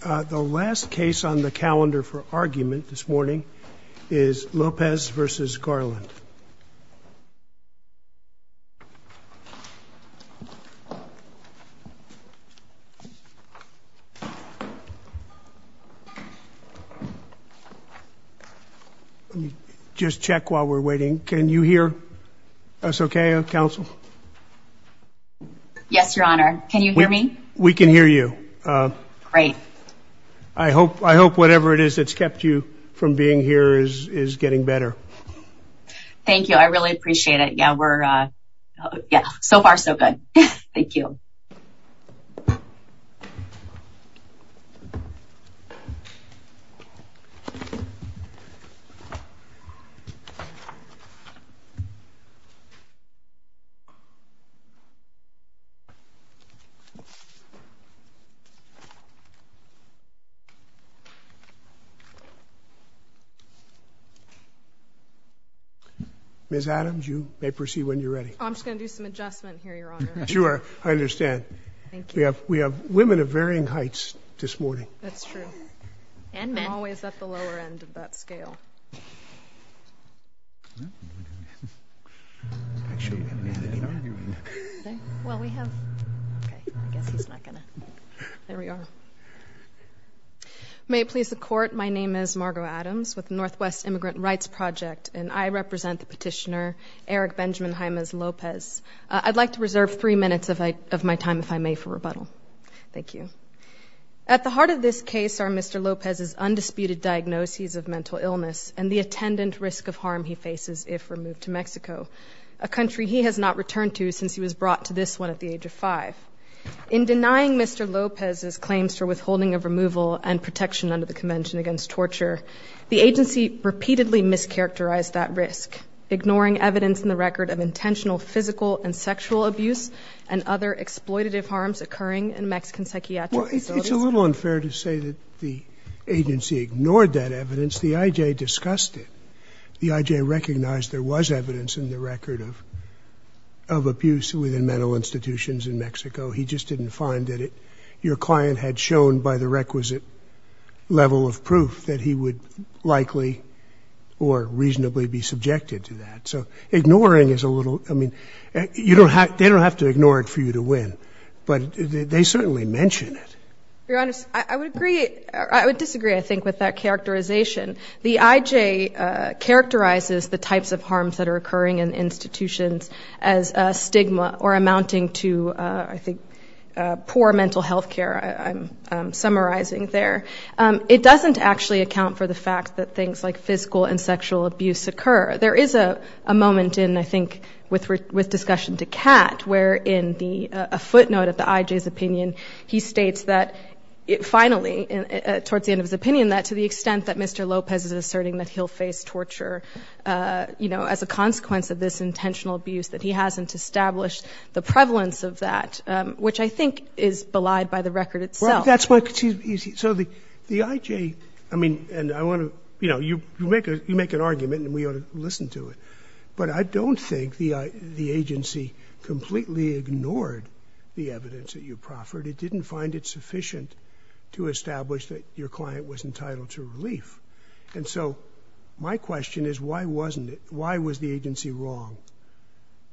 The last case on the calendar for argument this morning is Lopez v. Garland. Let me just check while we're waiting. Can you hear us okay, Counsel? Yes, Your Honor. Can you hear me? We can hear you. Great. I hope whatever it is that's kept you from being here is getting better. Thank you. I really appreciate it. Yeah, so far so good. Thank you. Ms. Adams, you may proceed when you're ready. I'm just going to do some adjustment here, Your Honor. Sure, I understand. Thank you. We have women of varying heights this morning. That's true. I'm always at the lower end of that scale. Actually, we haven't had an argument. Well, we have. Okay, I guess he's not going to. There we are. May it please the Court, my name is Margo Adams with the Northwest Immigrant Rights Project, and I represent the petitioner Eric Benjamin Jaimes Lopez. I'd like to reserve three minutes of my time, if I may, for rebuttal. Thank you. At the heart of this case are Mr. Lopez's undisputed diagnoses of mental illness, and the attendant risk of harm he faces if removed to Mexico, a country he has not returned to since he was brought to this one at the age of five. In denying Mr. Lopez's claims for withholding of removal and protection under the Convention Against Torture, the agency repeatedly mischaracterized that risk, ignoring evidence in the record of intentional physical and sexual abuse and other exploitative harms occurring in Mexican psychiatric facilities. Well, it's a little unfair to say that the agency ignored that evidence. The I.J. discussed it. The I.J. recognized there was evidence in the record of abuse within mental institutions in Mexico. He just didn't find that your client had shown by the requisite level of proof that he would likely or reasonably be subjected to that. So ignoring is a little, I mean, they don't have to ignore it for you to win, but they certainly mention it. Your Honor, I would disagree, I think, with that characterization. The I.J. characterizes the types of harms that are occurring in institutions as a stigma or amounting to, I think, poor mental health care, I'm summarizing there. It doesn't actually account for the fact that things like physical and sexual abuse occur. There is a moment in, I think, with discussion to Catt, where in the footnote of the I.J.'s opinion, he states that finally, towards the end of his opinion, that to the extent that Mr. Lopez is asserting that he'll face torture, you know, as a consequence of this intentional abuse, that he hasn't established the prevalence of that, which I think is belied by the record itself. Well, that's what it seems to me. So the I.J., I mean, and I want to, you know, you make an argument and we ought to listen to it, but I don't think the agency completely ignored the evidence that you proffered. It didn't find it sufficient to establish that your client was entitled to relief. And so my question is, why wasn't it? Why was the agency wrong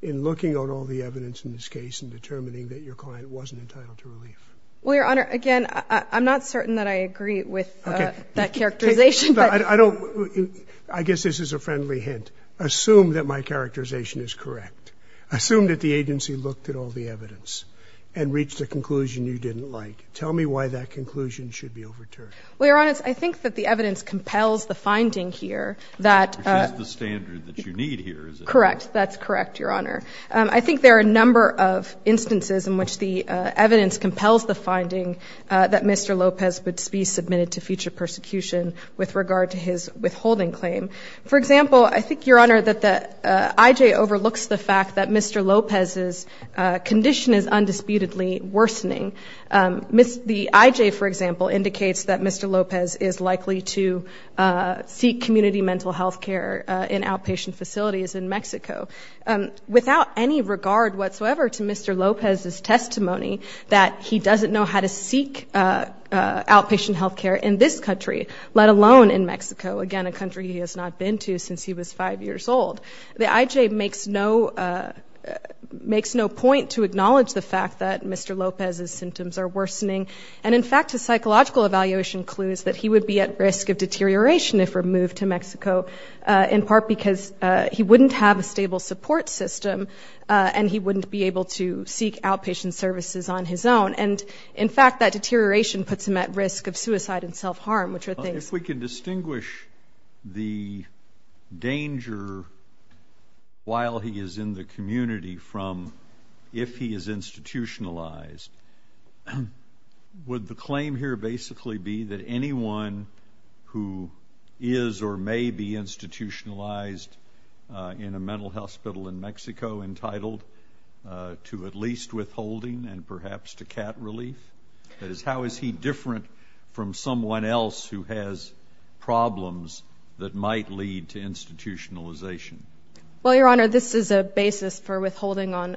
in looking at all the evidence in this case and determining that your client wasn't entitled to relief? Well, Your Honor, again, I'm not certain that I agree with that characterization. I guess this is a friendly hint. Assume that my characterization is correct. Assume that the agency looked at all the evidence and reached a conclusion you didn't like. Tell me why that conclusion should be overturned. Well, Your Honor, I think that the evidence compels the finding here that the standard that you need here is correct. That's correct, Your Honor. I think there are a number of instances in which the evidence compels the finding that Mr. Lopez would be submitted to future persecution with regard to his withholding claim. For example, I think, Your Honor, that the IJ overlooks the fact that Mr. Lopez's condition is undisputedly worsening. The IJ, for example, indicates that Mr. Lopez is likely to seek community mental health care in outpatient facilities in Mexico. Without any regard whatsoever to Mr. Lopez's testimony that he doesn't know how to seek outpatient health care in this country, let alone in Mexico, again, a country he has not been to since he was five years old, the IJ makes no point to acknowledge the fact that Mr. Lopez's symptoms are worsening. And, in fact, his psychological evaluation clues that he would be at risk of deterioration if removed to Mexico, in part because he wouldn't have a stable support system and he wouldn't be able to seek outpatient services on his own. And, in fact, that deterioration puts him at risk of suicide and self-harm, which are things. If we can distinguish the danger while he is in the community from if he is institutionalized, would the claim here basically be that anyone who is or may be institutionalized in a mental hospital in Mexico, entitled to at least withholding and perhaps to cat relief? That is, how is he different from someone else who has problems that might lead to institutionalization? Well, Your Honor, this is a basis for withholding on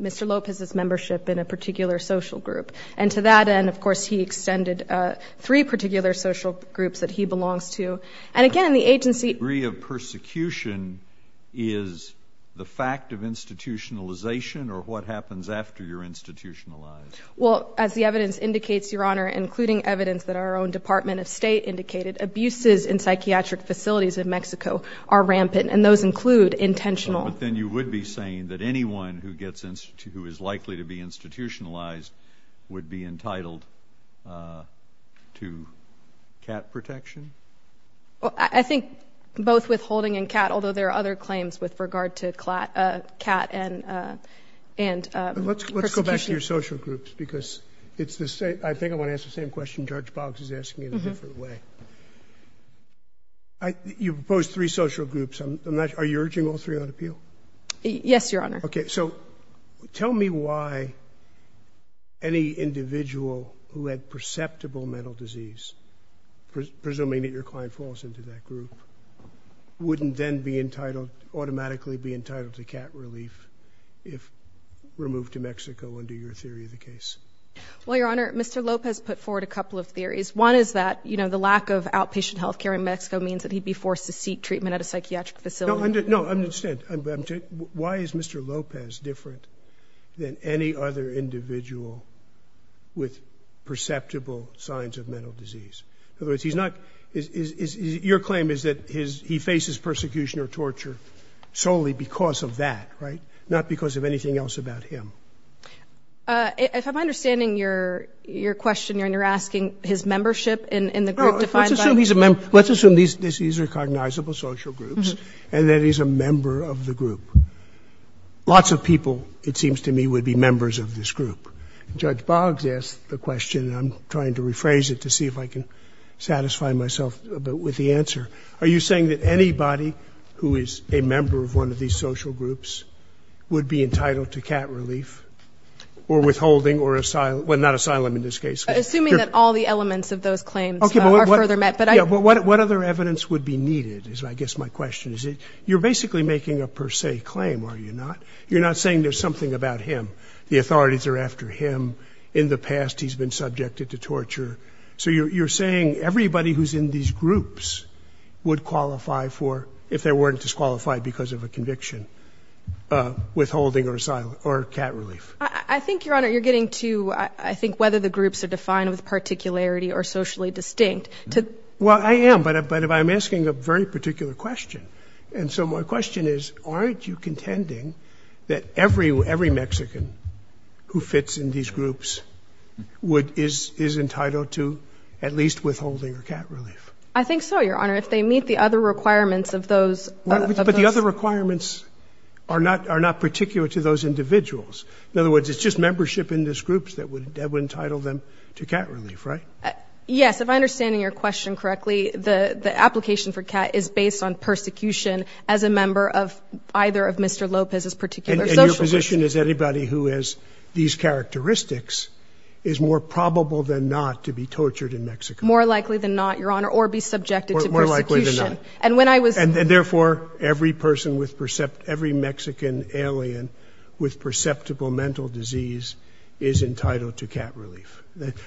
Mr. Lopez's membership in a particular social group. And to that end, of course, he extended three particular social groups that he belongs to. And, again, in the agency- The degree of persecution is the fact of institutionalization or what happens after you're institutionalized? Well, as the evidence indicates, Your Honor, including evidence that our own Department of State indicated, abuses in psychiatric facilities in Mexico are rampant. And those include intentional- But then you would be saying that anyone who is likely to be institutionalized would be entitled to cat protection? Well, I think both withholding and cat, although there are other claims with regard to cat and persecution. Let's go back to your social groups because it's the same- I think I want to ask the same question Judge Boggs is asking in a different way. You've proposed three social groups. Are you urging all three on appeal? Yes, Your Honor. Okay. So tell me why any individual who had perceptible mental disease, presuming that your client falls into that group, wouldn't then automatically be entitled to cat relief if removed to Mexico under your theory of the case? Well, Your Honor, Mr. Lopez put forward a couple of theories. One is that the lack of outpatient health care in Mexico means that he'd be forced to seek treatment at a psychiatric facility. No, I understand. Why is Mr. Lopez different than any other individual with perceptible signs of mental disease? In other words, he's not- Your claim is that he faces persecution or torture solely because of that, right? Not because of anything else about him. If I'm understanding your question, Your Honor, you're asking his membership in the group defined by- No, let's assume he's a member. Let's assume these are recognizable social groups and that he's a member of the group. Lots of people, it seems to me, would be members of this group. Judge Boggs asked the question, and I'm trying to rephrase it to see if I can satisfy myself with the answer. Are you saying that anybody who is a member of one of these social groups would be entitled to cat relief or withholding or asylum? Well, not asylum in this case. Assuming that all the elements of those claims are further met, but I- Yeah, but what other evidence would be needed is, I guess, my question. You're basically making a per se claim, are you not? You're not saying there's something about him. The authorities are after him. In the past, he's been subjected to torture. So you're saying everybody who's in these groups would qualify for, if they weren't disqualified because of a conviction, withholding or asylum or cat relief. I think, Your Honor, you're getting to, I think, whether the groups are defined with particularity or socially distinct. Well, I am, but I'm asking a very particular question. And so my question is, aren't you contending that every Mexican who fits in these groups is entitled to at least withholding or cat relief? I think so, Your Honor. If they meet the other requirements of those- But the other requirements are not particular to those individuals. In other words, it's just membership in these groups that would entitle them to cat relief, right? Yes, if I understand your question correctly, the application for cat is based on persecution as a member of either of Mr. Lopez's particular social groups. And your position is anybody who has these characteristics is more probable than not to be tortured in Mexico. More likely than not, Your Honor, or be subjected to persecution. More likely than not. And when I was- And therefore, every person with, every Mexican alien with perceptible mental disease is entitled to cat relief.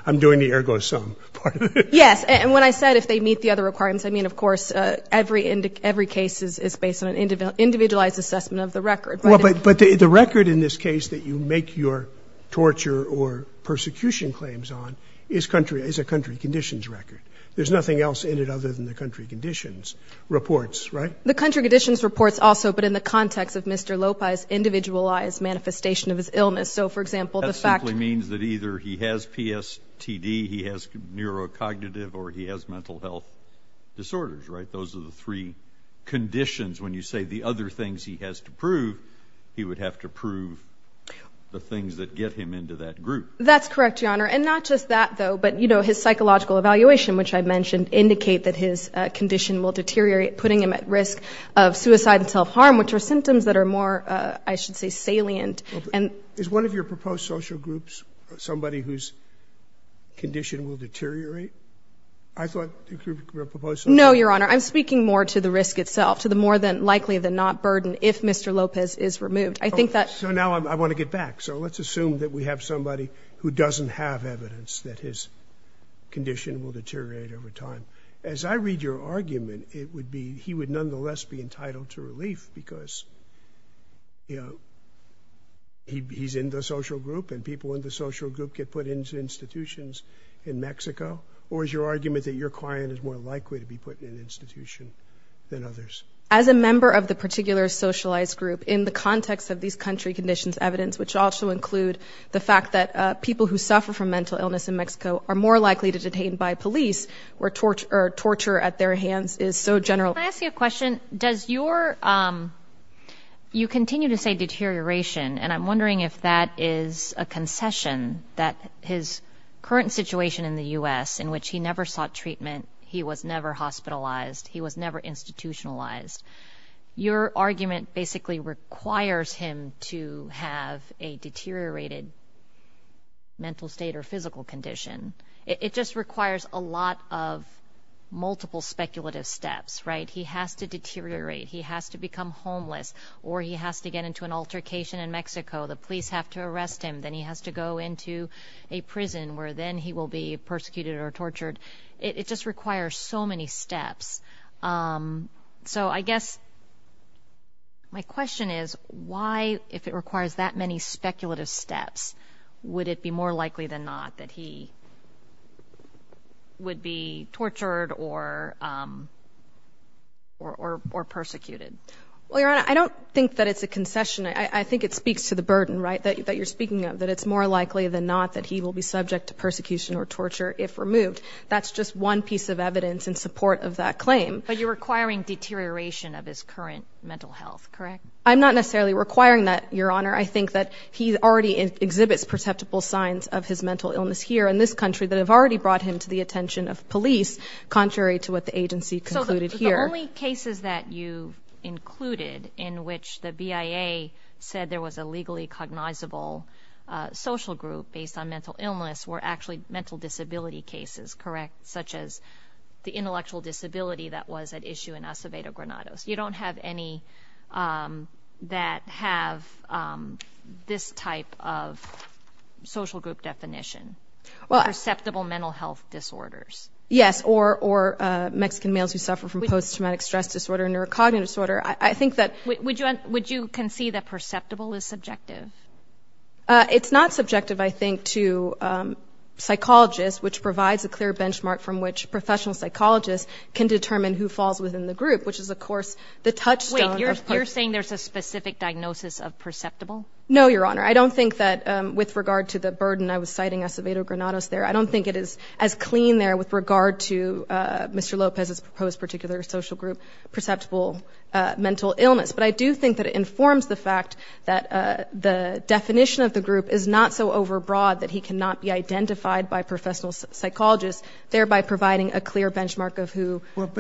I'm doing the ergo sum part of it. Yes, and when I said if they meet the other requirements, I mean, of course, every case is based on an individualized assessment of the record. But the record in this case that you make your torture or persecution claims on is a country conditions record. There's nothing else in it other than the country conditions reports, right? The country conditions reports also, but in the context of Mr. Lopez's individualized manifestation of his illness. So, for example- That simply means that either he has PSTD, he has neurocognitive, or he has mental health disorders, right? Those are the three conditions. When you say the other things he has to prove, he would have to prove the things that get him into that group. That's correct, Your Honor. And not just that, though, but, you know, his psychological evaluation, which I mentioned, indicate that his condition will deteriorate, putting him at risk of suicide and self-harm, which are symptoms that are more, I should say, salient. Is one of your proposed social groups somebody whose condition will deteriorate? I thought the group you proposed- No, Your Honor. I'm speaking more to the risk itself, to the more than likely than not burden if Mr. Lopez is removed. I think that- So now I want to get back. So let's assume that we have somebody who doesn't have evidence that his condition will deteriorate over time. As I read your argument, it would be he would nonetheless be entitled to relief because, you know, he's in the social group, and people in the social group get put into institutions in Mexico. Or is your argument that your client is more likely to be put in an institution than others? As a member of the particular socialized group, in the context of these country conditions evidence, which also include the fact that people who suffer from mental illness in Mexico are more likely to be detained by police, where torture at their hands is so general. Can I ask you a question? Does your- you continue to say deterioration, and I'm wondering if that is a concession, that his current situation in the U.S., in which he never sought treatment, he was never hospitalized, he was never institutionalized. Your argument basically requires him to have a deteriorated mental state or physical condition. It just requires a lot of multiple speculative steps, right? He has to deteriorate, he has to become homeless, or he has to get into an altercation in Mexico, the police have to arrest him, then he has to go into a prison where then he will be persecuted or tortured. It just requires so many steps. So I guess my question is, why, if it requires that many speculative steps, would it be more likely than not that he would be tortured or persecuted? Well, Your Honor, I don't think that it's a concession. I think it speaks to the burden, right, that you're speaking of, that it's more likely than not that he will be subject to persecution or torture if removed. That's just one piece of evidence in support of that claim. But you're requiring deterioration of his current mental health, correct? I'm not necessarily requiring that, Your Honor. I think that he already exhibits perceptible signs of his mental illness here in this country that have already brought him to the attention of police, contrary to what the agency concluded here. The only cases that you included in which the BIA said there was a legally cognizable social group based on mental illness were actually mental disability cases, correct, such as the intellectual disability that was at issue in Acevedo Granados. You don't have any that have this type of social group definition, perceptible mental health disorders. Yes, or Mexican males who suffer from post-traumatic stress disorder and neurocognitive disorder. I think that – Would you concede that perceptible is subjective? It's not subjective, I think, to psychologists, which provides a clear benchmark from which professional psychologists can determine who falls within the group, which is, of course, the touchstone of – Wait, you're saying there's a specific diagnosis of perceptible? No, Your Honor. I don't think that with regard to the burden, I was citing Acevedo Granados there. I don't think it is as clean there with regard to Mr. Lopez's proposed particular social group, perceptible mental illness. But I do think that it informs the fact that the definition of the group is not so overbroad that he cannot be identified by professional psychologists, thereby providing a clear benchmark of who – But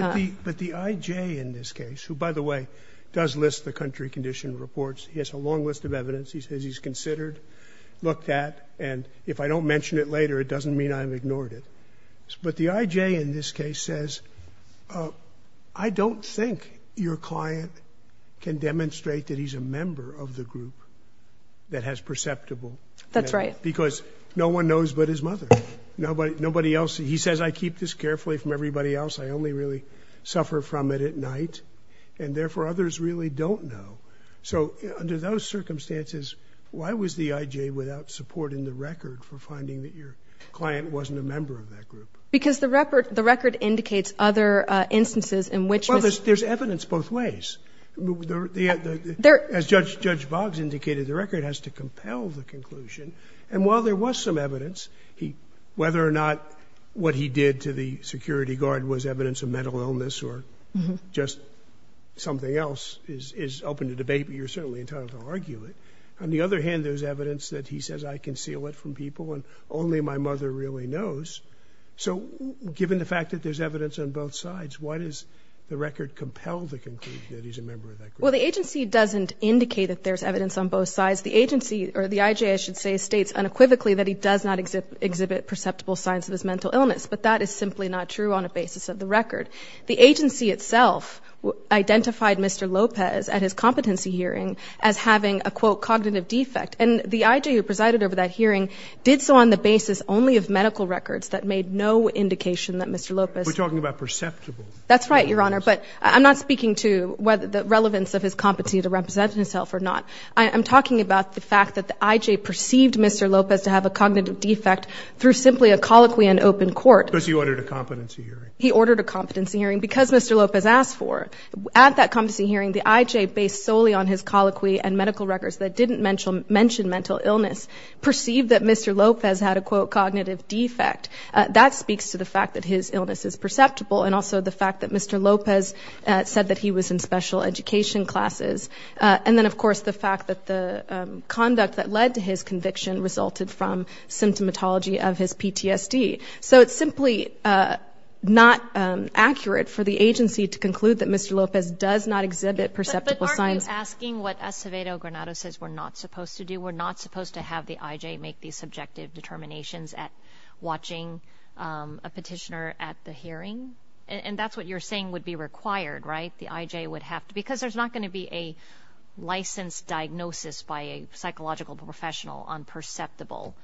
the IJ in this case, who, by the way, does list the country condition reports, he has a long list of evidence, he says he's considered, looked at, and if I don't mention it later, it doesn't mean I've ignored it. But the IJ in this case says, I don't think your client can demonstrate that he's a member of the group that has perceptible. That's right. Because no one knows but his mother. Nobody else. He says, I keep this carefully from everybody else. I only really suffer from it at night, and therefore others really don't know. So under those circumstances, why was the IJ without support in the record for finding that your client wasn't a member of that group? Because the record indicates other instances in which – Well, there's evidence both ways. As Judge Boggs indicated, the record has to compel the conclusion. And while there was some evidence, whether or not what he did to the security guard was evidence of mental illness or just something else is open to debate, but you're certainly entitled to argue it. On the other hand, there's evidence that he says, I conceal it from people and only my mother really knows. So given the fact that there's evidence on both sides, why does the record compel the conclusion that he's a member of that group? Well, the agency doesn't indicate that there's evidence on both sides. The agency – or the IJ, I should say, states unequivocally that he does not exhibit perceptible signs of his mental illness. But that is simply not true on a basis of the record. The agency itself identified Mr. Lopez at his competency hearing as having a, quote, cognitive defect. And the IJ who presided over that hearing did so on the basis only of medical records that made no indication that Mr. Lopez – We're talking about perceptible. That's right, Your Honor. But I'm not speaking to whether the relevance of his competency to represent himself or not. I'm talking about the fact that the IJ perceived Mr. Lopez to have a cognitive defect through simply a colloquy and open court. Because he ordered a competency hearing. He ordered a competency hearing because Mr. Lopez asked for. At that competency hearing, the IJ based solely on his colloquy and medical records that didn't mention mental illness perceived that Mr. Lopez had a, quote, cognitive defect. That speaks to the fact that his illness is perceptible and also the fact that Mr. Lopez said that he was in special education classes. And then, of course, the fact that the conduct that led to his conviction resulted from symptomatology of his PTSD. So it's simply not accurate for the agency to conclude that Mr. Lopez does not exhibit perceptible signs. But aren't you asking what Acevedo Granado says we're not supposed to do? We're not supposed to have the IJ make these subjective determinations at watching a petitioner at the hearing? And that's what you're saying would be required, right? Because there's not going to be a licensed diagnosis by a psychological professional on perceptible.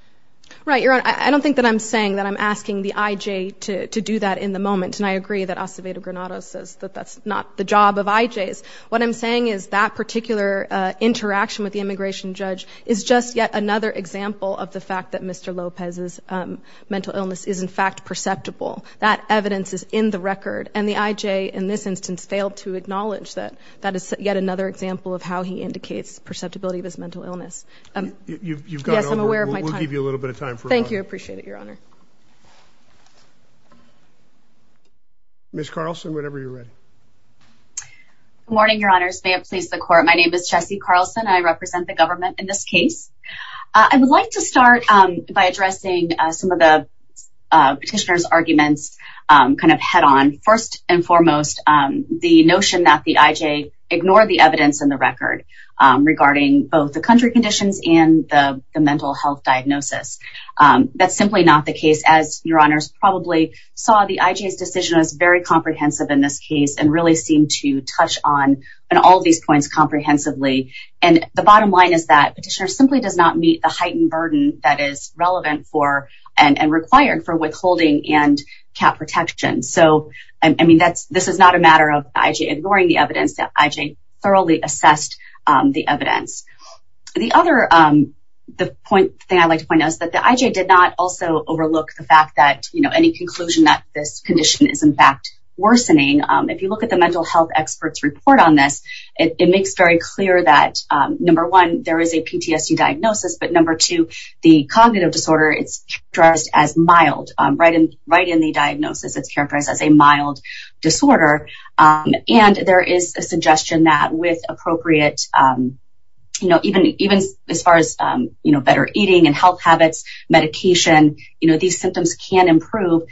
Right, Your Honor. I don't think that I'm saying that I'm asking the IJ to do that in the moment. And I agree that Acevedo Granado says that that's not the job of IJs. What I'm saying is that particular interaction with the immigration judge is just yet another example of the fact that Mr. Lopez's mental illness is, in fact, perceptible. That evidence is in the record. And the IJ in this instance failed to acknowledge that that is yet another example of how he indicates perceptibility of his mental illness. Yes, I'm aware of my time. We'll give you a little bit of time. Thank you. I appreciate it, Your Honor. Ms. Carlson, whenever you're ready. Good morning, Your Honors. May it please the Court. My name is Jessie Carlson. I represent the government in this case. I would like to start by addressing some of the petitioner's arguments kind of put on, first and foremost, the notion that the IJ ignored the evidence in the record regarding both the country conditions and the mental health diagnosis. That's simply not the case, as Your Honors probably saw the IJ's decision was very comprehensive in this case and really seemed to touch on all of these points comprehensively. And the bottom line is that petitioner simply does not meet the heightened burden that is relevant for and required for withholding and cap protection. So, I mean, this is not a matter of IJ ignoring the evidence. The IJ thoroughly assessed the evidence. The other thing I'd like to point out is that the IJ did not also overlook the fact that, you know, any conclusion that this condition is, in fact, worsening. If you look at the mental health expert's report on this, it makes very clear that, number one, there is a PTSD diagnosis, but, number two, the cognitive disorder is addressed as mild. Right in the diagnosis, it's characterized as a mild disorder, and there is a suggestion that with appropriate, you know, even as far as, you know, better eating and health habits, medication, you know, these symptoms can improve,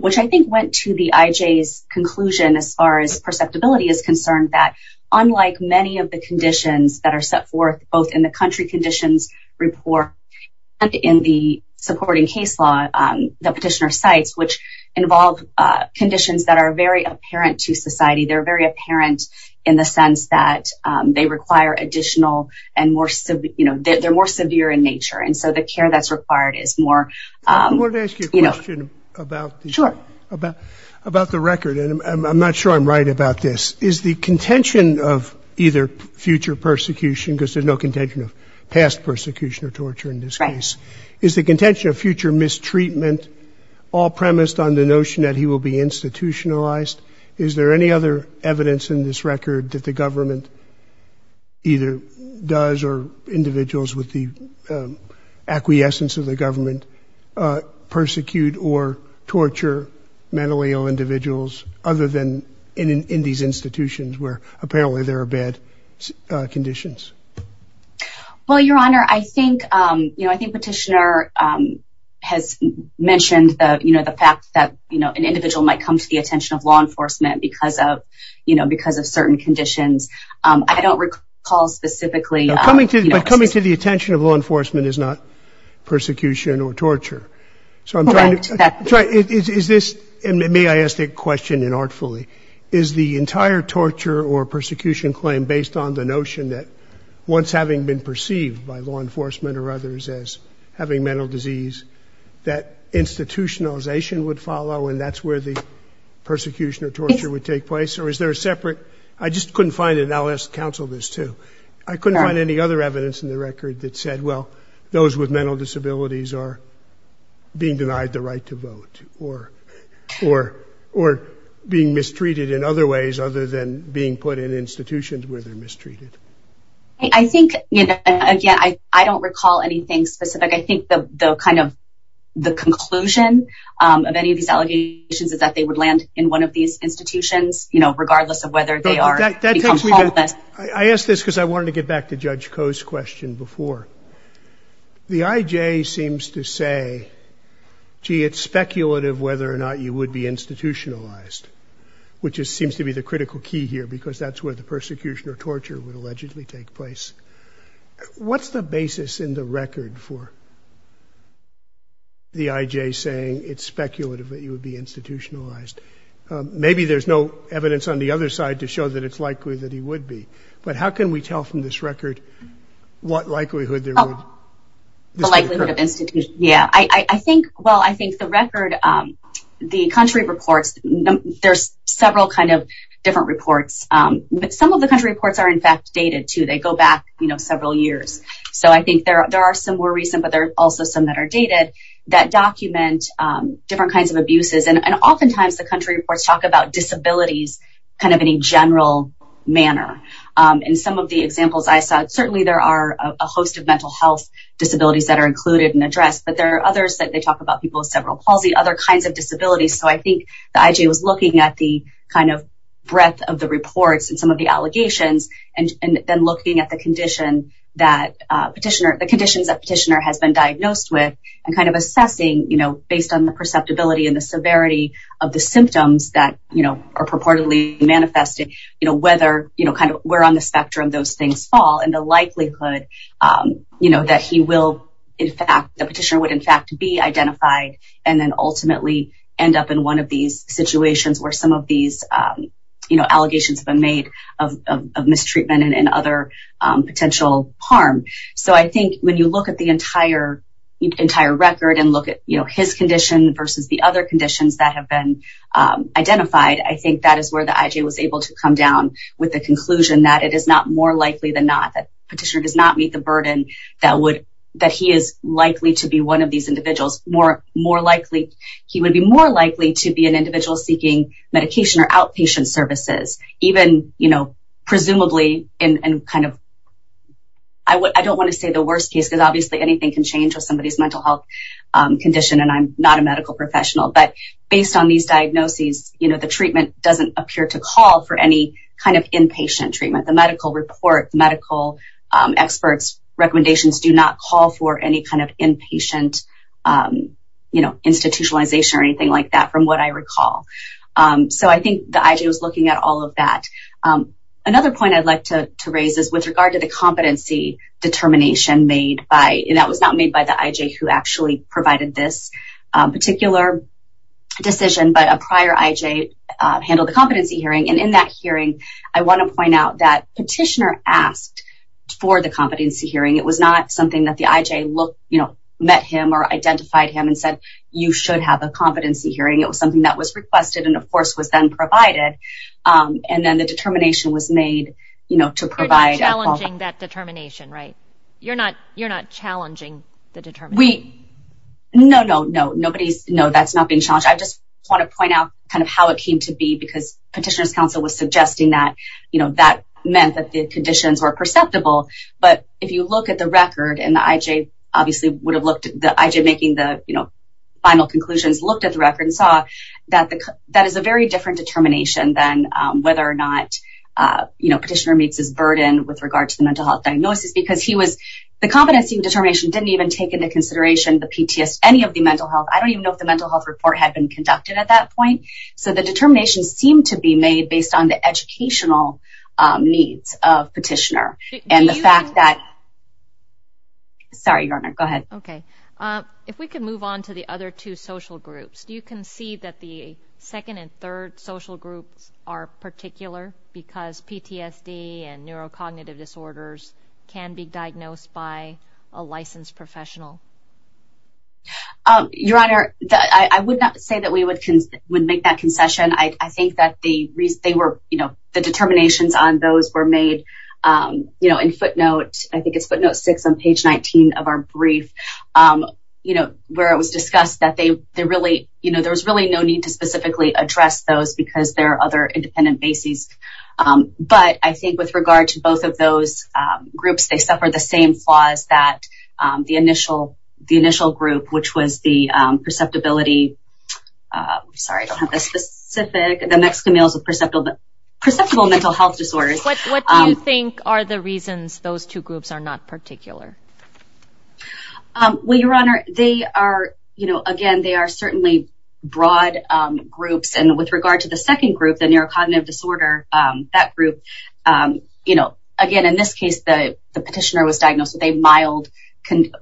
which I think went to the IJ's conclusion as far as perceptibility is concerned that, unlike many of the conditions that are set forth both in the country conditions report and in the supporting case law, the petitioner cites, which involve conditions that are very apparent to society. They're very apparent in the sense that they require additional and more, you know, they're more severe in nature, and so the care that's required is more, you know. I wanted to ask you a question about the record, and I'm not sure I'm right about this. Is the contention of either future persecution, because there's no contention of past persecution or torture in this case, is the contention of future mistreatment all premised on the notion that he will be institutionalized? Is there any other evidence in this record that the government either does or individuals with the acquiescence of the government persecute or torture mentally ill individuals other than in these institutions where apparently there are bad conditions? Well, your honor, I think petitioner has mentioned the fact that an individual might come to the attention of law enforcement because of certain conditions. I don't recall specifically. But coming to the attention of law enforcement is not persecution or torture. Correct. May I ask a question inartfully? Is the entire torture or persecution claim based on the notion that once having been perceived by law enforcement or others as having mental disease, that institutionalization would follow and that's where the persecution or torture would take place? Yes. Or is there a separate? I just couldn't find it, and I'll ask counsel this, too. I couldn't find any other evidence in the record that said, well, those with other than being put in institutions where they're mistreated? I think, you know, again, I don't recall anything specific. I think the kind of the conclusion of any of these allegations is that they would land in one of these institutions, you know, regardless of whether they are become homeless. I ask this because I wanted to get back to Judge Koh's question before. The IJ seems to say, gee, it's speculative whether or not you would be institutionalized, which seems to be the critical key here because that's where the persecution or torture would allegedly take place. What's the basis in the record for the IJ saying it's speculative that you would be institutionalized? Maybe there's no evidence on the other side to show that it's likely that he would be. But how can we tell from this record what likelihood there would? The likelihood of institution, yeah. I think, well, I think the record, the country reports, there's several kind of different reports. Some of the country reports are, in fact, dated, too. They go back, you know, several years. So I think there are some more recent, but there are also some that are dated that document different kinds of abuses. And oftentimes the country reports talk about disabilities kind of in a general manner. In some of the examples I saw, certainly there are a host of mental health disabilities that are included and addressed. But there are others that they talk about people with several palsy, other kinds of disabilities. So I think the IJ was looking at the kind of breadth of the reports and some of the allegations and then looking at the condition that petitioner, the conditions that petitioner has been diagnosed with and kind of assessing, you know, based on the perceptibility and the severity of the symptoms that, you know, are purportedly manifesting, you know, whether, you know, kind of where on the spectrum those things fall and the likelihood, you know, that he will, in fact, the petitioner would, in fact, be identified and then ultimately end up in one of these situations where some of these, you know, allegations have been made of mistreatment and other potential harm. So I think when you look at the entire record and look at, you know, his condition versus the other conditions that have been identified, I think that is where the more likely than not that petitioner does not meet the burden that would, that he is likely to be one of these individuals. More likely, he would be more likely to be an individual seeking medication or outpatient services, even, you know, presumably in kind of, I don't want to say the worst case because obviously anything can change with somebody's mental health condition and I'm not a medical professional. But based on these diagnoses, you know, the treatment doesn't appear to call for any kind of inpatient treatment. The medical report, the medical experts' recommendations do not call for any kind of inpatient, you know, institutionalization or anything like that from what I recall. So I think the IJ was looking at all of that. Another point I'd like to raise is with regard to the competency determination made by, and that was not made by the IJ who actually provided this particular decision, but a prior IJ handled the competency hearing. And in that hearing, I want to point out that petitioner asked for the competency hearing. It was not something that the IJ, you know, met him or identified him and said, you should have a competency hearing. It was something that was requested and, of course, was then provided. And then the determination was made, you know, to provide. You're not challenging the determination? No, no, no. Nobody's, no, that's not being challenged. I just want to point out kind of how it came to be because petitioner's counsel was suggesting that, you know, that meant that the conditions were perceptible. But if you look at the record, and the IJ obviously would have looked, the IJ making the, you know, final conclusions looked at the record and saw that that is a very different determination than whether or not, you know, petitioner meets his burden with regard to the mental health diagnosis because he was, the consideration, the PTSD, any of the mental health. I don't even know if the mental health report had been conducted at that point. So the determination seemed to be made based on the educational needs of petitioner. And the fact that, sorry, your honor, go ahead. Okay. If we could move on to the other two social groups, do you concede that the second and third social groups are particular because PTSD and neurocognitive disorders can be diagnosed by a licensed professional? Your honor, I would not say that we would make that concession. I think that they were, you know, the determinations on those were made, you know, in footnote, I think it's footnote six on page 19 of our brief, you know, where it was discussed that they really, you know, there was really no need to specifically address those because there are other independent bases. But I think with regard to both of those groups, they suffered the same flaws that the initial group, which was the perceptibility, sorry, I don't have the specific, the Mexican males with perceptible mental health disorders. What do you think are the reasons those two groups are not particular? Well, your honor, they are, you know, again, they are certainly broad groups. And with regard to the second group, the neurocognitive disorder, that group, you know, again, in this case, the petitioner was diagnosed with a mild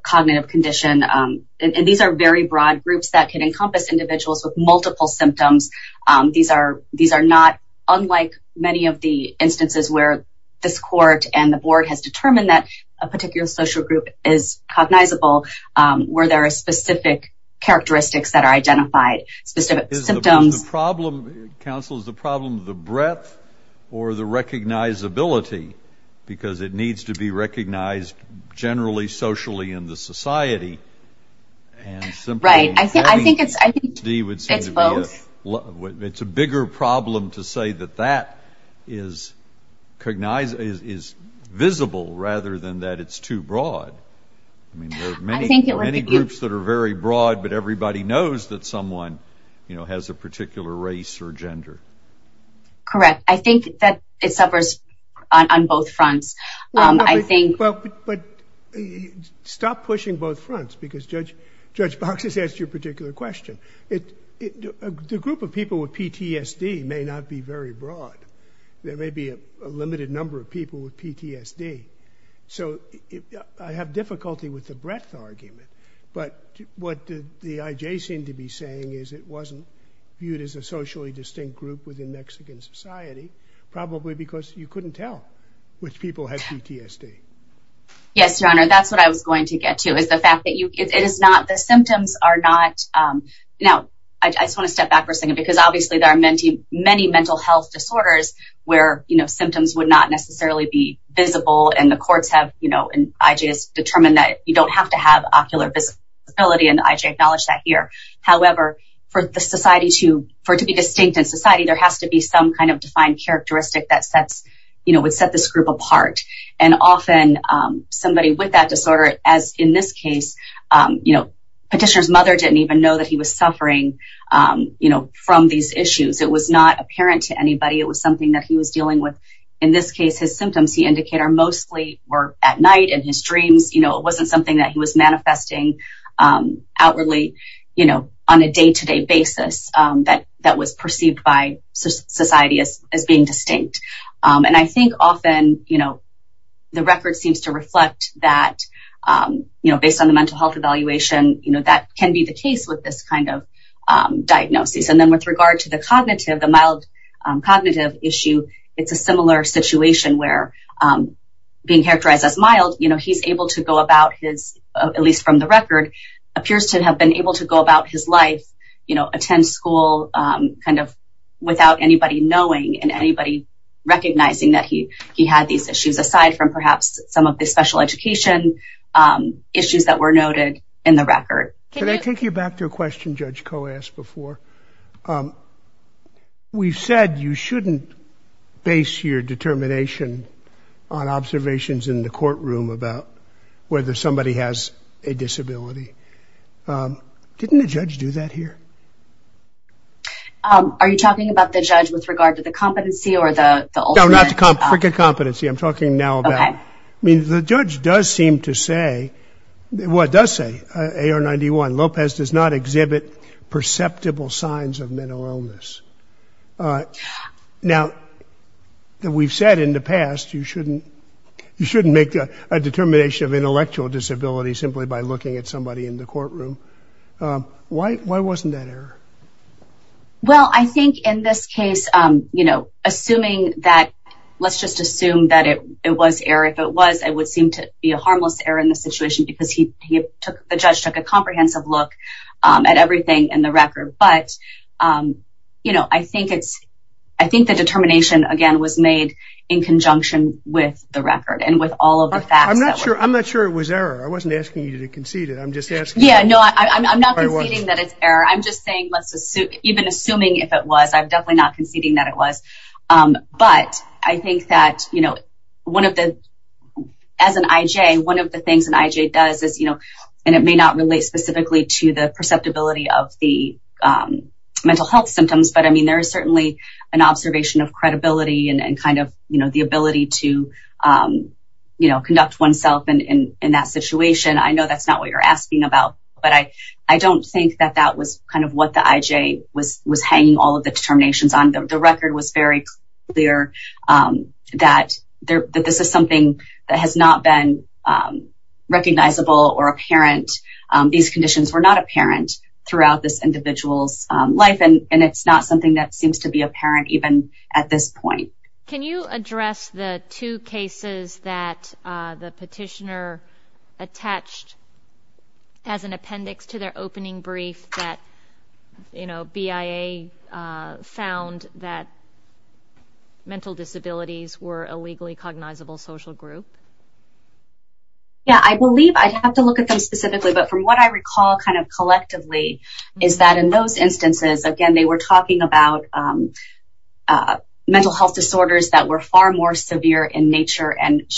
cognitive condition. And these are very broad groups that can encompass individuals with multiple symptoms. These are not unlike many of the instances where this court and the board has determined that a particular social group is cognizable where there are specific characteristics that are identified, specific symptoms. So the problem, counsel, is the problem of the breadth or the recognizability because it needs to be recognized generally socially in the society. Right. I think it's both. It's a bigger problem to say that that is visible rather than that it's too broad. I mean, there are many groups that are very broad, but everybody knows that particular race or gender. Correct. I think that it suffers on both fronts. Well, but stop pushing both fronts because Judge Box has asked you a particular question. The group of people with PTSD may not be very broad. There may be a limited number of people with PTSD. So I have difficulty with the breadth argument. But what the IJ seemed to be saying is it wasn't viewed as a socially distinct group within Mexican society, probably because you couldn't tell which people had PTSD. Yes, Your Honor, that's what I was going to get to is the fact that it is not the symptoms are not. Now, I just want to step back for a second because obviously there are many mental health disorders where symptoms would not necessarily be visible and the IJ acknowledged that here. However, for the society to be distinct in society, there has to be some kind of defined characteristic that would set this group apart. And often somebody with that disorder, as in this case, petitioner's mother didn't even know that he was suffering from these issues. It was not apparent to anybody. It was something that he was dealing with. In this case, his symptoms he indicated mostly were at night in his dreams. It wasn't something that he was manifesting outwardly on a day-to-day basis that was perceived by society as being distinct. And I think often the record seems to reflect that based on the mental health evaluation, that can be the case with this kind of diagnosis. And then with regard to the cognitive, the mild cognitive issue, it's a similar situation where being characterized as mild, he's able to go about his, at least from the record, appears to have been able to go about his life, attend school kind of without anybody knowing and anybody recognizing that he had these issues, aside from perhaps some of the special education issues that were noted in the record. Can I take you back to a question Judge Koh asked before? We've said you shouldn't base your determination on observations in the courtroom about whether somebody has a disability. Didn't a judge do that here? Are you talking about the judge with regard to the competency or the ultimate? No, not the competency. I'm talking now about, I mean, the judge does seem to say, well, it does say, AR-91, Lopez does not exhibit perceptible signs of mental illness. Now, we've said in the past you shouldn't make a determination of intellectual disability simply by looking at somebody in the courtroom. Why wasn't that error? Well, I think in this case, you know, assuming that, let's just assume that it was error. If it was, it would seem to be a harmless error in the situation because he took, the judge took a comprehensive look at everything in the record. But, you know, I think it's, I think the determination, again, was made in conjunction with the record and with all of the facts. I'm not sure it was error. I wasn't asking you to concede it. I'm just asking. Yeah, no, I'm not conceding that it's error. I'm just saying, even assuming if it was, I'm definitely not conceding that it was. But I think that, you know, one of the, as an IJ, one of the things an IJ does is, you know, and it may not relate specifically to the perceptibility of the mental health symptoms, but, I mean, there is certainly an observation of credibility and kind of, you know, the ability to, you know, conduct oneself in that situation. I know that's not what you're asking about, but I don't think that that was kind of what the IJ was hanging all of the determinations on. The record was very clear that this is something that has not been recognizable or apparent. These conditions were not apparent throughout this individual's life, and it's not something that seems to be apparent even at this point. Can you address the two cases that the petitioner attached as an appendix to their opening brief that, you know, BIA found that mental disabilities were a legally cognizable social group? Yeah, I believe I'd have to look at them specifically, but from what I recall kind of collectively is that in those instances, again, they were talking about mental health disorders that were far more severe in nature and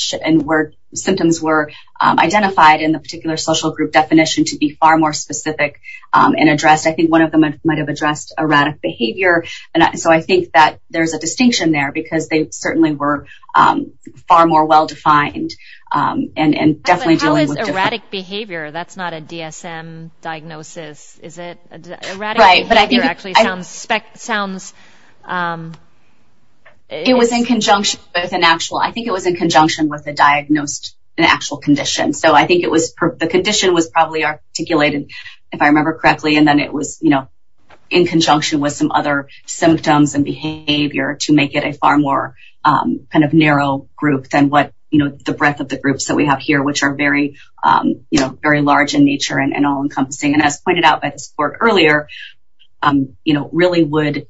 where symptoms were identified in the particular social group definition to be far more specific and addressed. I think one of them might have addressed erratic behavior, and so I think that there's a distinction there because they certainly were far more well-defined and definitely dealing with different. How is erratic behavior? That's not a DSM diagnosis, is it? Erratic behavior actually sounds. It was in conjunction with an actual. I think it was in conjunction with a diagnosed, an actual condition. So I think it was the condition was probably articulated, if I remember correctly, and then it was, you know, in conjunction with some other symptoms and behavior to make it a far more kind of narrow group than what, you know, the breadth of the groups that we have here, which are very, you know, very large in nature and all encompassing. And as pointed out by the support earlier, you know, really would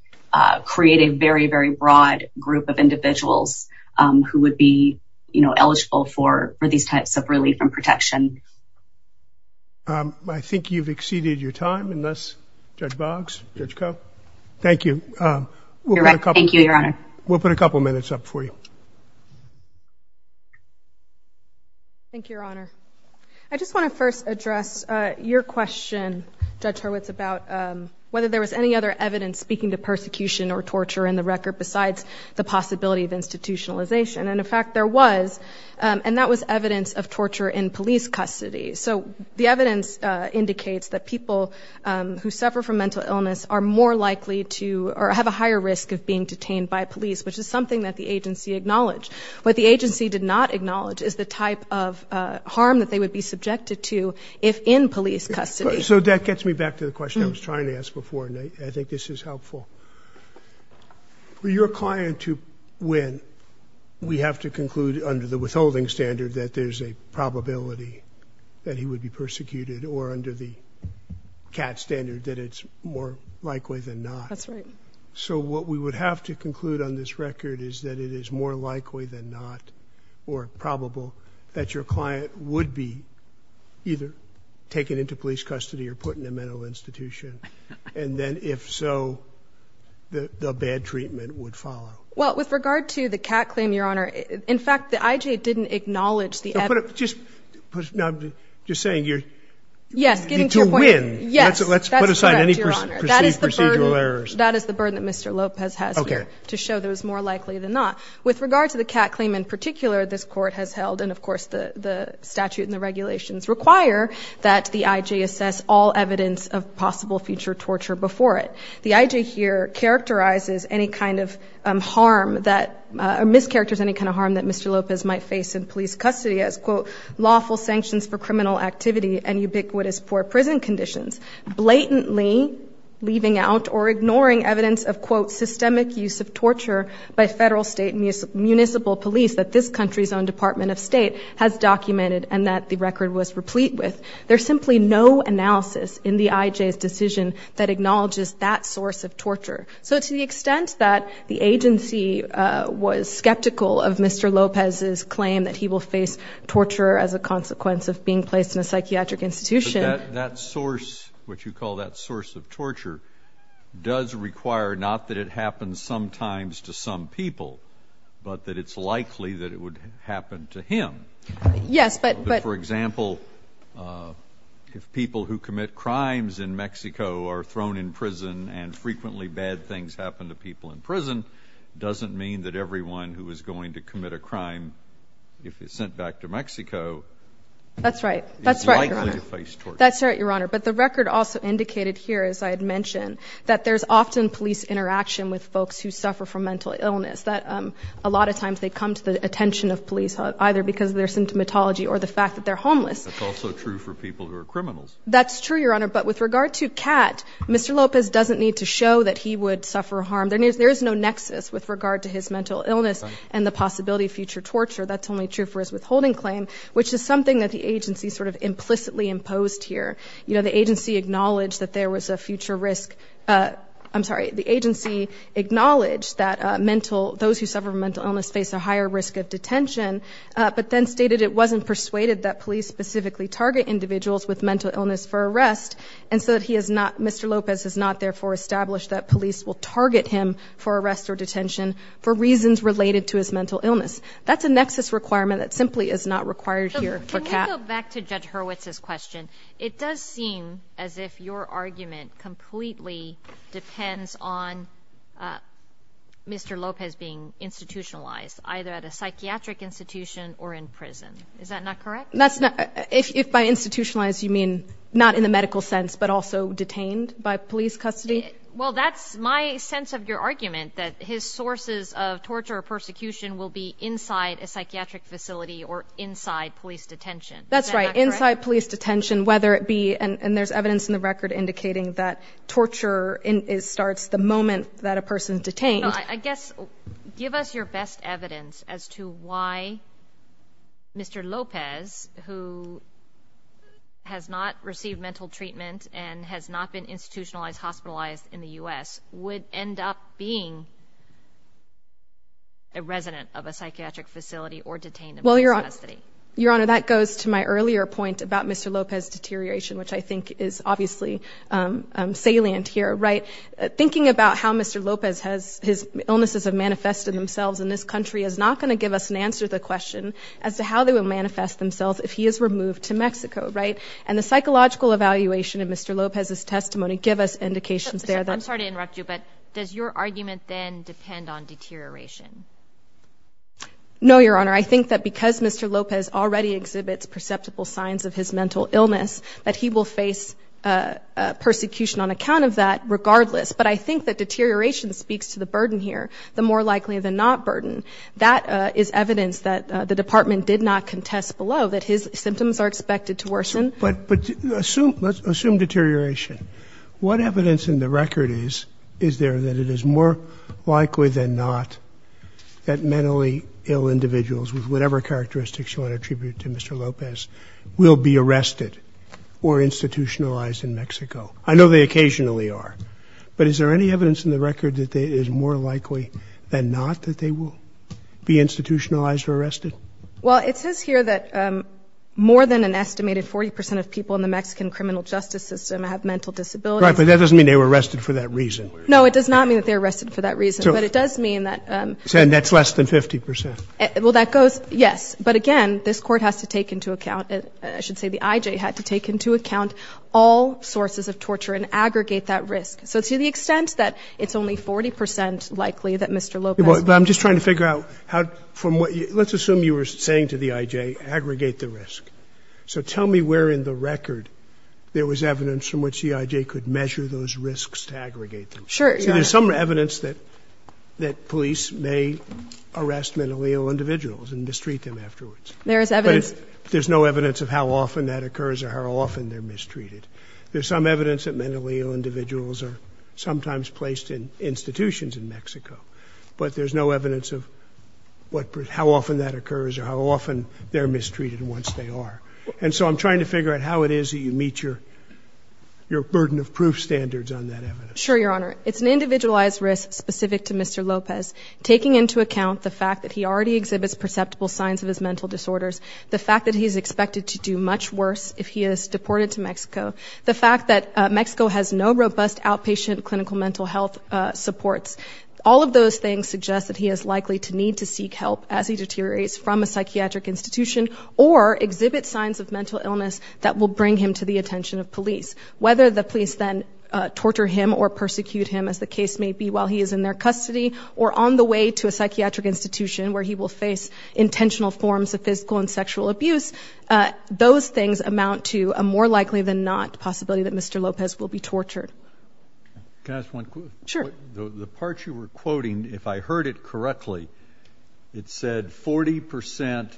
create a very, very broad group of individuals who would be, you know, eligible for these types of relief and protection. I think you've exceeded your time in this, Judge Boggs, Judge Koh. Thank you. Thank you, Your Honor. We'll put a couple minutes up for you. Thank you, Your Honor. I just want to first address your question, Judge Hurwitz, about whether there was any other evidence speaking to persecution or torture in the record besides the possibility of institutionalization. And, in fact, there was, and that was evidence of torture in police custody. So the evidence indicates that people who suffer from mental illness are more likely to have a higher risk of being detained by police, which is something that the agency acknowledged. What the agency did not acknowledge is the type of harm that they would be subjected to if in police custody. So that gets me back to the question I was trying to ask before, and I think this is helpful. For your client to win, we have to conclude under the withholding standard that there's a probability that he would be persecuted, or under the CAT standard that it's more likely than not. That's right. So what we would have to conclude on this record is that it is more likely than not or probable that your client would be either taken into police custody or put in a mental institution. And then, if so, the bad treatment would follow. Well, with regard to the CAT claim, Your Honor, in fact, the IJ didn't acknowledge the evidence. Just saying, to win. Yes. That's correct, Your Honor. Let's put aside any procedural errors. That is the burden that Mr. Lopez has here to show that it was more likely than not. With regard to the CAT claim in particular, this Court has held, and of course the statute and the regulations require that the IJ assess all evidence of possible future torture before it. The IJ here characterizes any kind of harm that, or mischaracters any kind of harm that Mr. Lopez might face in police custody as, quote, lawful sanctions for criminal activity and ubiquitous poor prison conditions, blatantly leaving out or ignoring evidence of, quote, systemic use of torture by federal, state, and municipal police that this country's own Department of State has documented and that the record was replete with. There's simply no analysis in the IJ's decision that acknowledges that source of torture. So to the extent that the agency was skeptical of Mr. Lopez's claim that he will face torture as a consequence of being placed in a psychiatric institution. But that source, what you call that source of torture, does require not that it happens sometimes to some people, but that it's likely that it would happen to him. Yes, but. But for example, if people who commit crimes in Mexico are thrown in prison and frequently bad things happen to people in prison, doesn't mean that everyone who is going to commit a crime, if it's sent back to Mexico. That's right. That's right, Your Honor. Is likely to face torture. That's right, Your Honor. But the record also indicated here, as I had mentioned, that there's often police interaction with folks who suffer from mental illness, that a lot of times they come to the attention of police, either because of their symptomatology or the fact that they're homeless. That's also true for people who are criminals. That's true, Your Honor. But with regard to Kat, Mr. Lopez doesn't need to show that he would suffer harm. There is no nexus with regard to his mental illness and the possibility of future torture. That's only true for his withholding claim, which is something that the agency sort of implicitly imposed here. You know, the agency acknowledged that there was a future risk. I'm sorry. The agency acknowledged that mental, those who suffer from mental illness face a higher risk of detention, but then stated it wasn't persuaded that police specifically target individuals with mental illness for arrest and so that he is not, Mr. Lopez has not therefore established that police will target him for arrest or detention for reasons related to his mental illness. That's a nexus requirement that simply is not required here for Kat. Can we go back to Judge Hurwitz's question? It does seem as if your argument completely depends on Mr. Lopez being institutionalized either at a psychiatric institution or in prison. Is that not correct? If by institutionalized you mean not in the medical sense, but also detained by police custody? Well, that's my sense of your argument that his sources of torture or persecution will be inside a psychiatric facility or inside police detention. That's right. Inside police detention, whether it be, and there's evidence in the record indicating that torture starts the moment that a person is detained. I guess, give us your best evidence as to why Mr. Lopez, who has not received mental treatment and has not been institutionalized, hospitalized in the U.S., would end up being a resident of a psychiatric facility or detained in police custody. Your Honor, that goes to my earlier point about Mr. Lopez deterioration, which I think is obviously salient here, right? The fact that his illnesses have manifested themselves in this country is not going to give us an answer to the question as to how they would manifest themselves if he is removed to Mexico, right? And the psychological evaluation of Mr. Lopez's testimony give us indications there. I'm sorry to interrupt you, but does your argument then depend on deterioration? No, Your Honor. I think that because Mr. Lopez already exhibits perceptible signs of his mental illness, that he will face persecution on account of that regardless. But I think that deterioration speaks to the burden here, the more likely than not burden. That is evidence that the department did not contest below, that his symptoms are expected to worsen. But let's assume deterioration. What evidence in the record is, is there that it is more likely than not that mentally ill individuals with whatever characteristics you want to attribute to Mr. Lopez will be arrested or institutionalized in Mexico? I know they occasionally are. But is there any evidence in the record that it is more likely than not that they will be institutionalized or arrested? Well, it says here that more than an estimated 40% of people in the Mexican criminal justice system have mental disabilities. Right, but that doesn't mean they were arrested for that reason. No, it does not mean that they were arrested for that reason. But it does mean that. And that's less than 50%. Well, that goes, yes. But again, this court has to take into account, I should say the IJ had to take into account all sources of torture and aggregate the risk. So to the extent that it's only 40% likely that Mr. Lopez. Well, I'm just trying to figure out how, from what let's assume you were saying to the IJ aggregate the risk. So tell me where in the record there was evidence from which the IJ could measure those risks to aggregate them. Sure. There's some evidence that, that police may arrest mentally ill individuals and mistreat them afterwards. There is evidence. There's no evidence of how often that occurs or how often they're mistreated. There's some evidence that mentally ill individuals are sometimes placed in institutions in Mexico, but there's no evidence of what, how often that occurs or how often they're mistreated once they are. And so I'm trying to figure out how it is that you meet your, your burden of proof standards on that evidence. Sure. Your Honor, it's an individualized risk specific to Mr. Lopez taking into account the fact that he already exhibits perceptible signs of his mental disorders. The fact that he's expected to do much worse if he is deported to Mexico, the fact that Mexico has no robust outpatient clinical mental health supports, all of those things suggest that he is likely to need to seek help as he deteriorates from a psychiatric institution or exhibit signs of mental illness that will bring him to the attention of police, whether the police then torture him or persecute him as the case may be while he is in their custody or on the way to a psychiatric institution where he will face intentional forms of physical and sexual abuse. Those things amount to a more likely than not possibility that Mr. Lopez will be tortured. Can I ask one? Sure. The part you were quoting, if I heard it correctly, it said 40%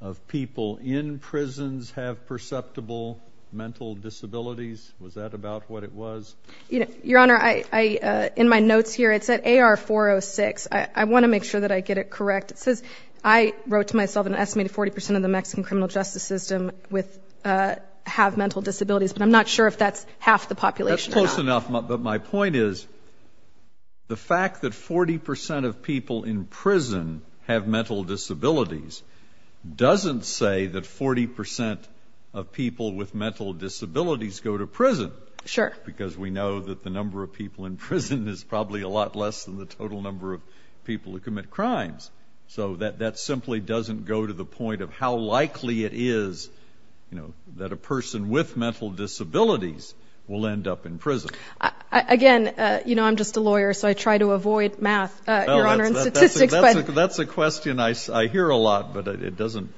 of people in prisons have perceptible mental disabilities. Was that about what it was? Your Honor, I, in my notes here, it said AR 406. I want to make sure that I get it correct. It says I wrote to myself an estimated 40% of the Mexican criminal justice system with, have mental disabilities, but I'm not sure if that's half the population. That's close enough. But my point is the fact that 40% of people in prison have mental disabilities doesn't say that 40% of people with mental disabilities go to prison. Sure. Because we know that the number of people in prison is probably a lot less than the total number of people who commit crimes. So that simply doesn't go to the point of how likely it is, you know, that a person with mental disabilities will end up in prison. Again, you know, I'm just a lawyer, so I try to avoid math, Your Honor, and statistics. That's a question I hear a lot, but it doesn't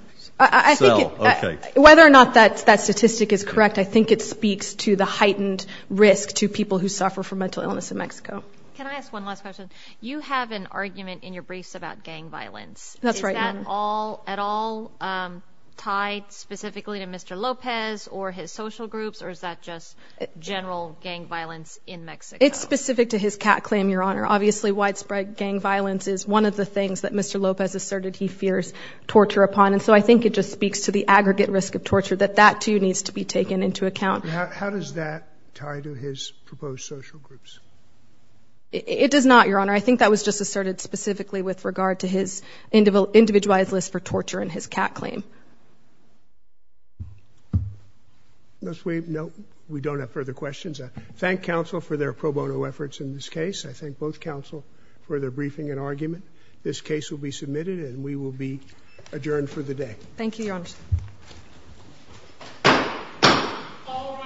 sell. Okay. Whether or not that statistic is correct, I think it speaks to the heightened risk to people who suffer from mental illness in Mexico. Can I ask one last question? You have an argument in your briefs about gang violence. Is that at all tied specifically to Mr. Lopez or his social groups, or is that just general gang violence in Mexico? It's specific to his cat claim, Your Honor. Obviously, widespread gang violence is one of the things that Mr. Lopez asserted he fears torture upon. And so I think it just speaks to the aggregate risk of torture, that that too needs to be taken into account. How does that tie to his proposed social groups? It does not, Your Honor. I think that was just asserted specifically with regard to his individualized list for torture and his cat claim. No, we don't have further questions. I thank counsel for their pro bono efforts in this case. I thank both counsel for their briefing and argument. This case will be submitted and we will be adjourned for the day. Thank you, Your Honor. All rise. This court for this session stands adjourned.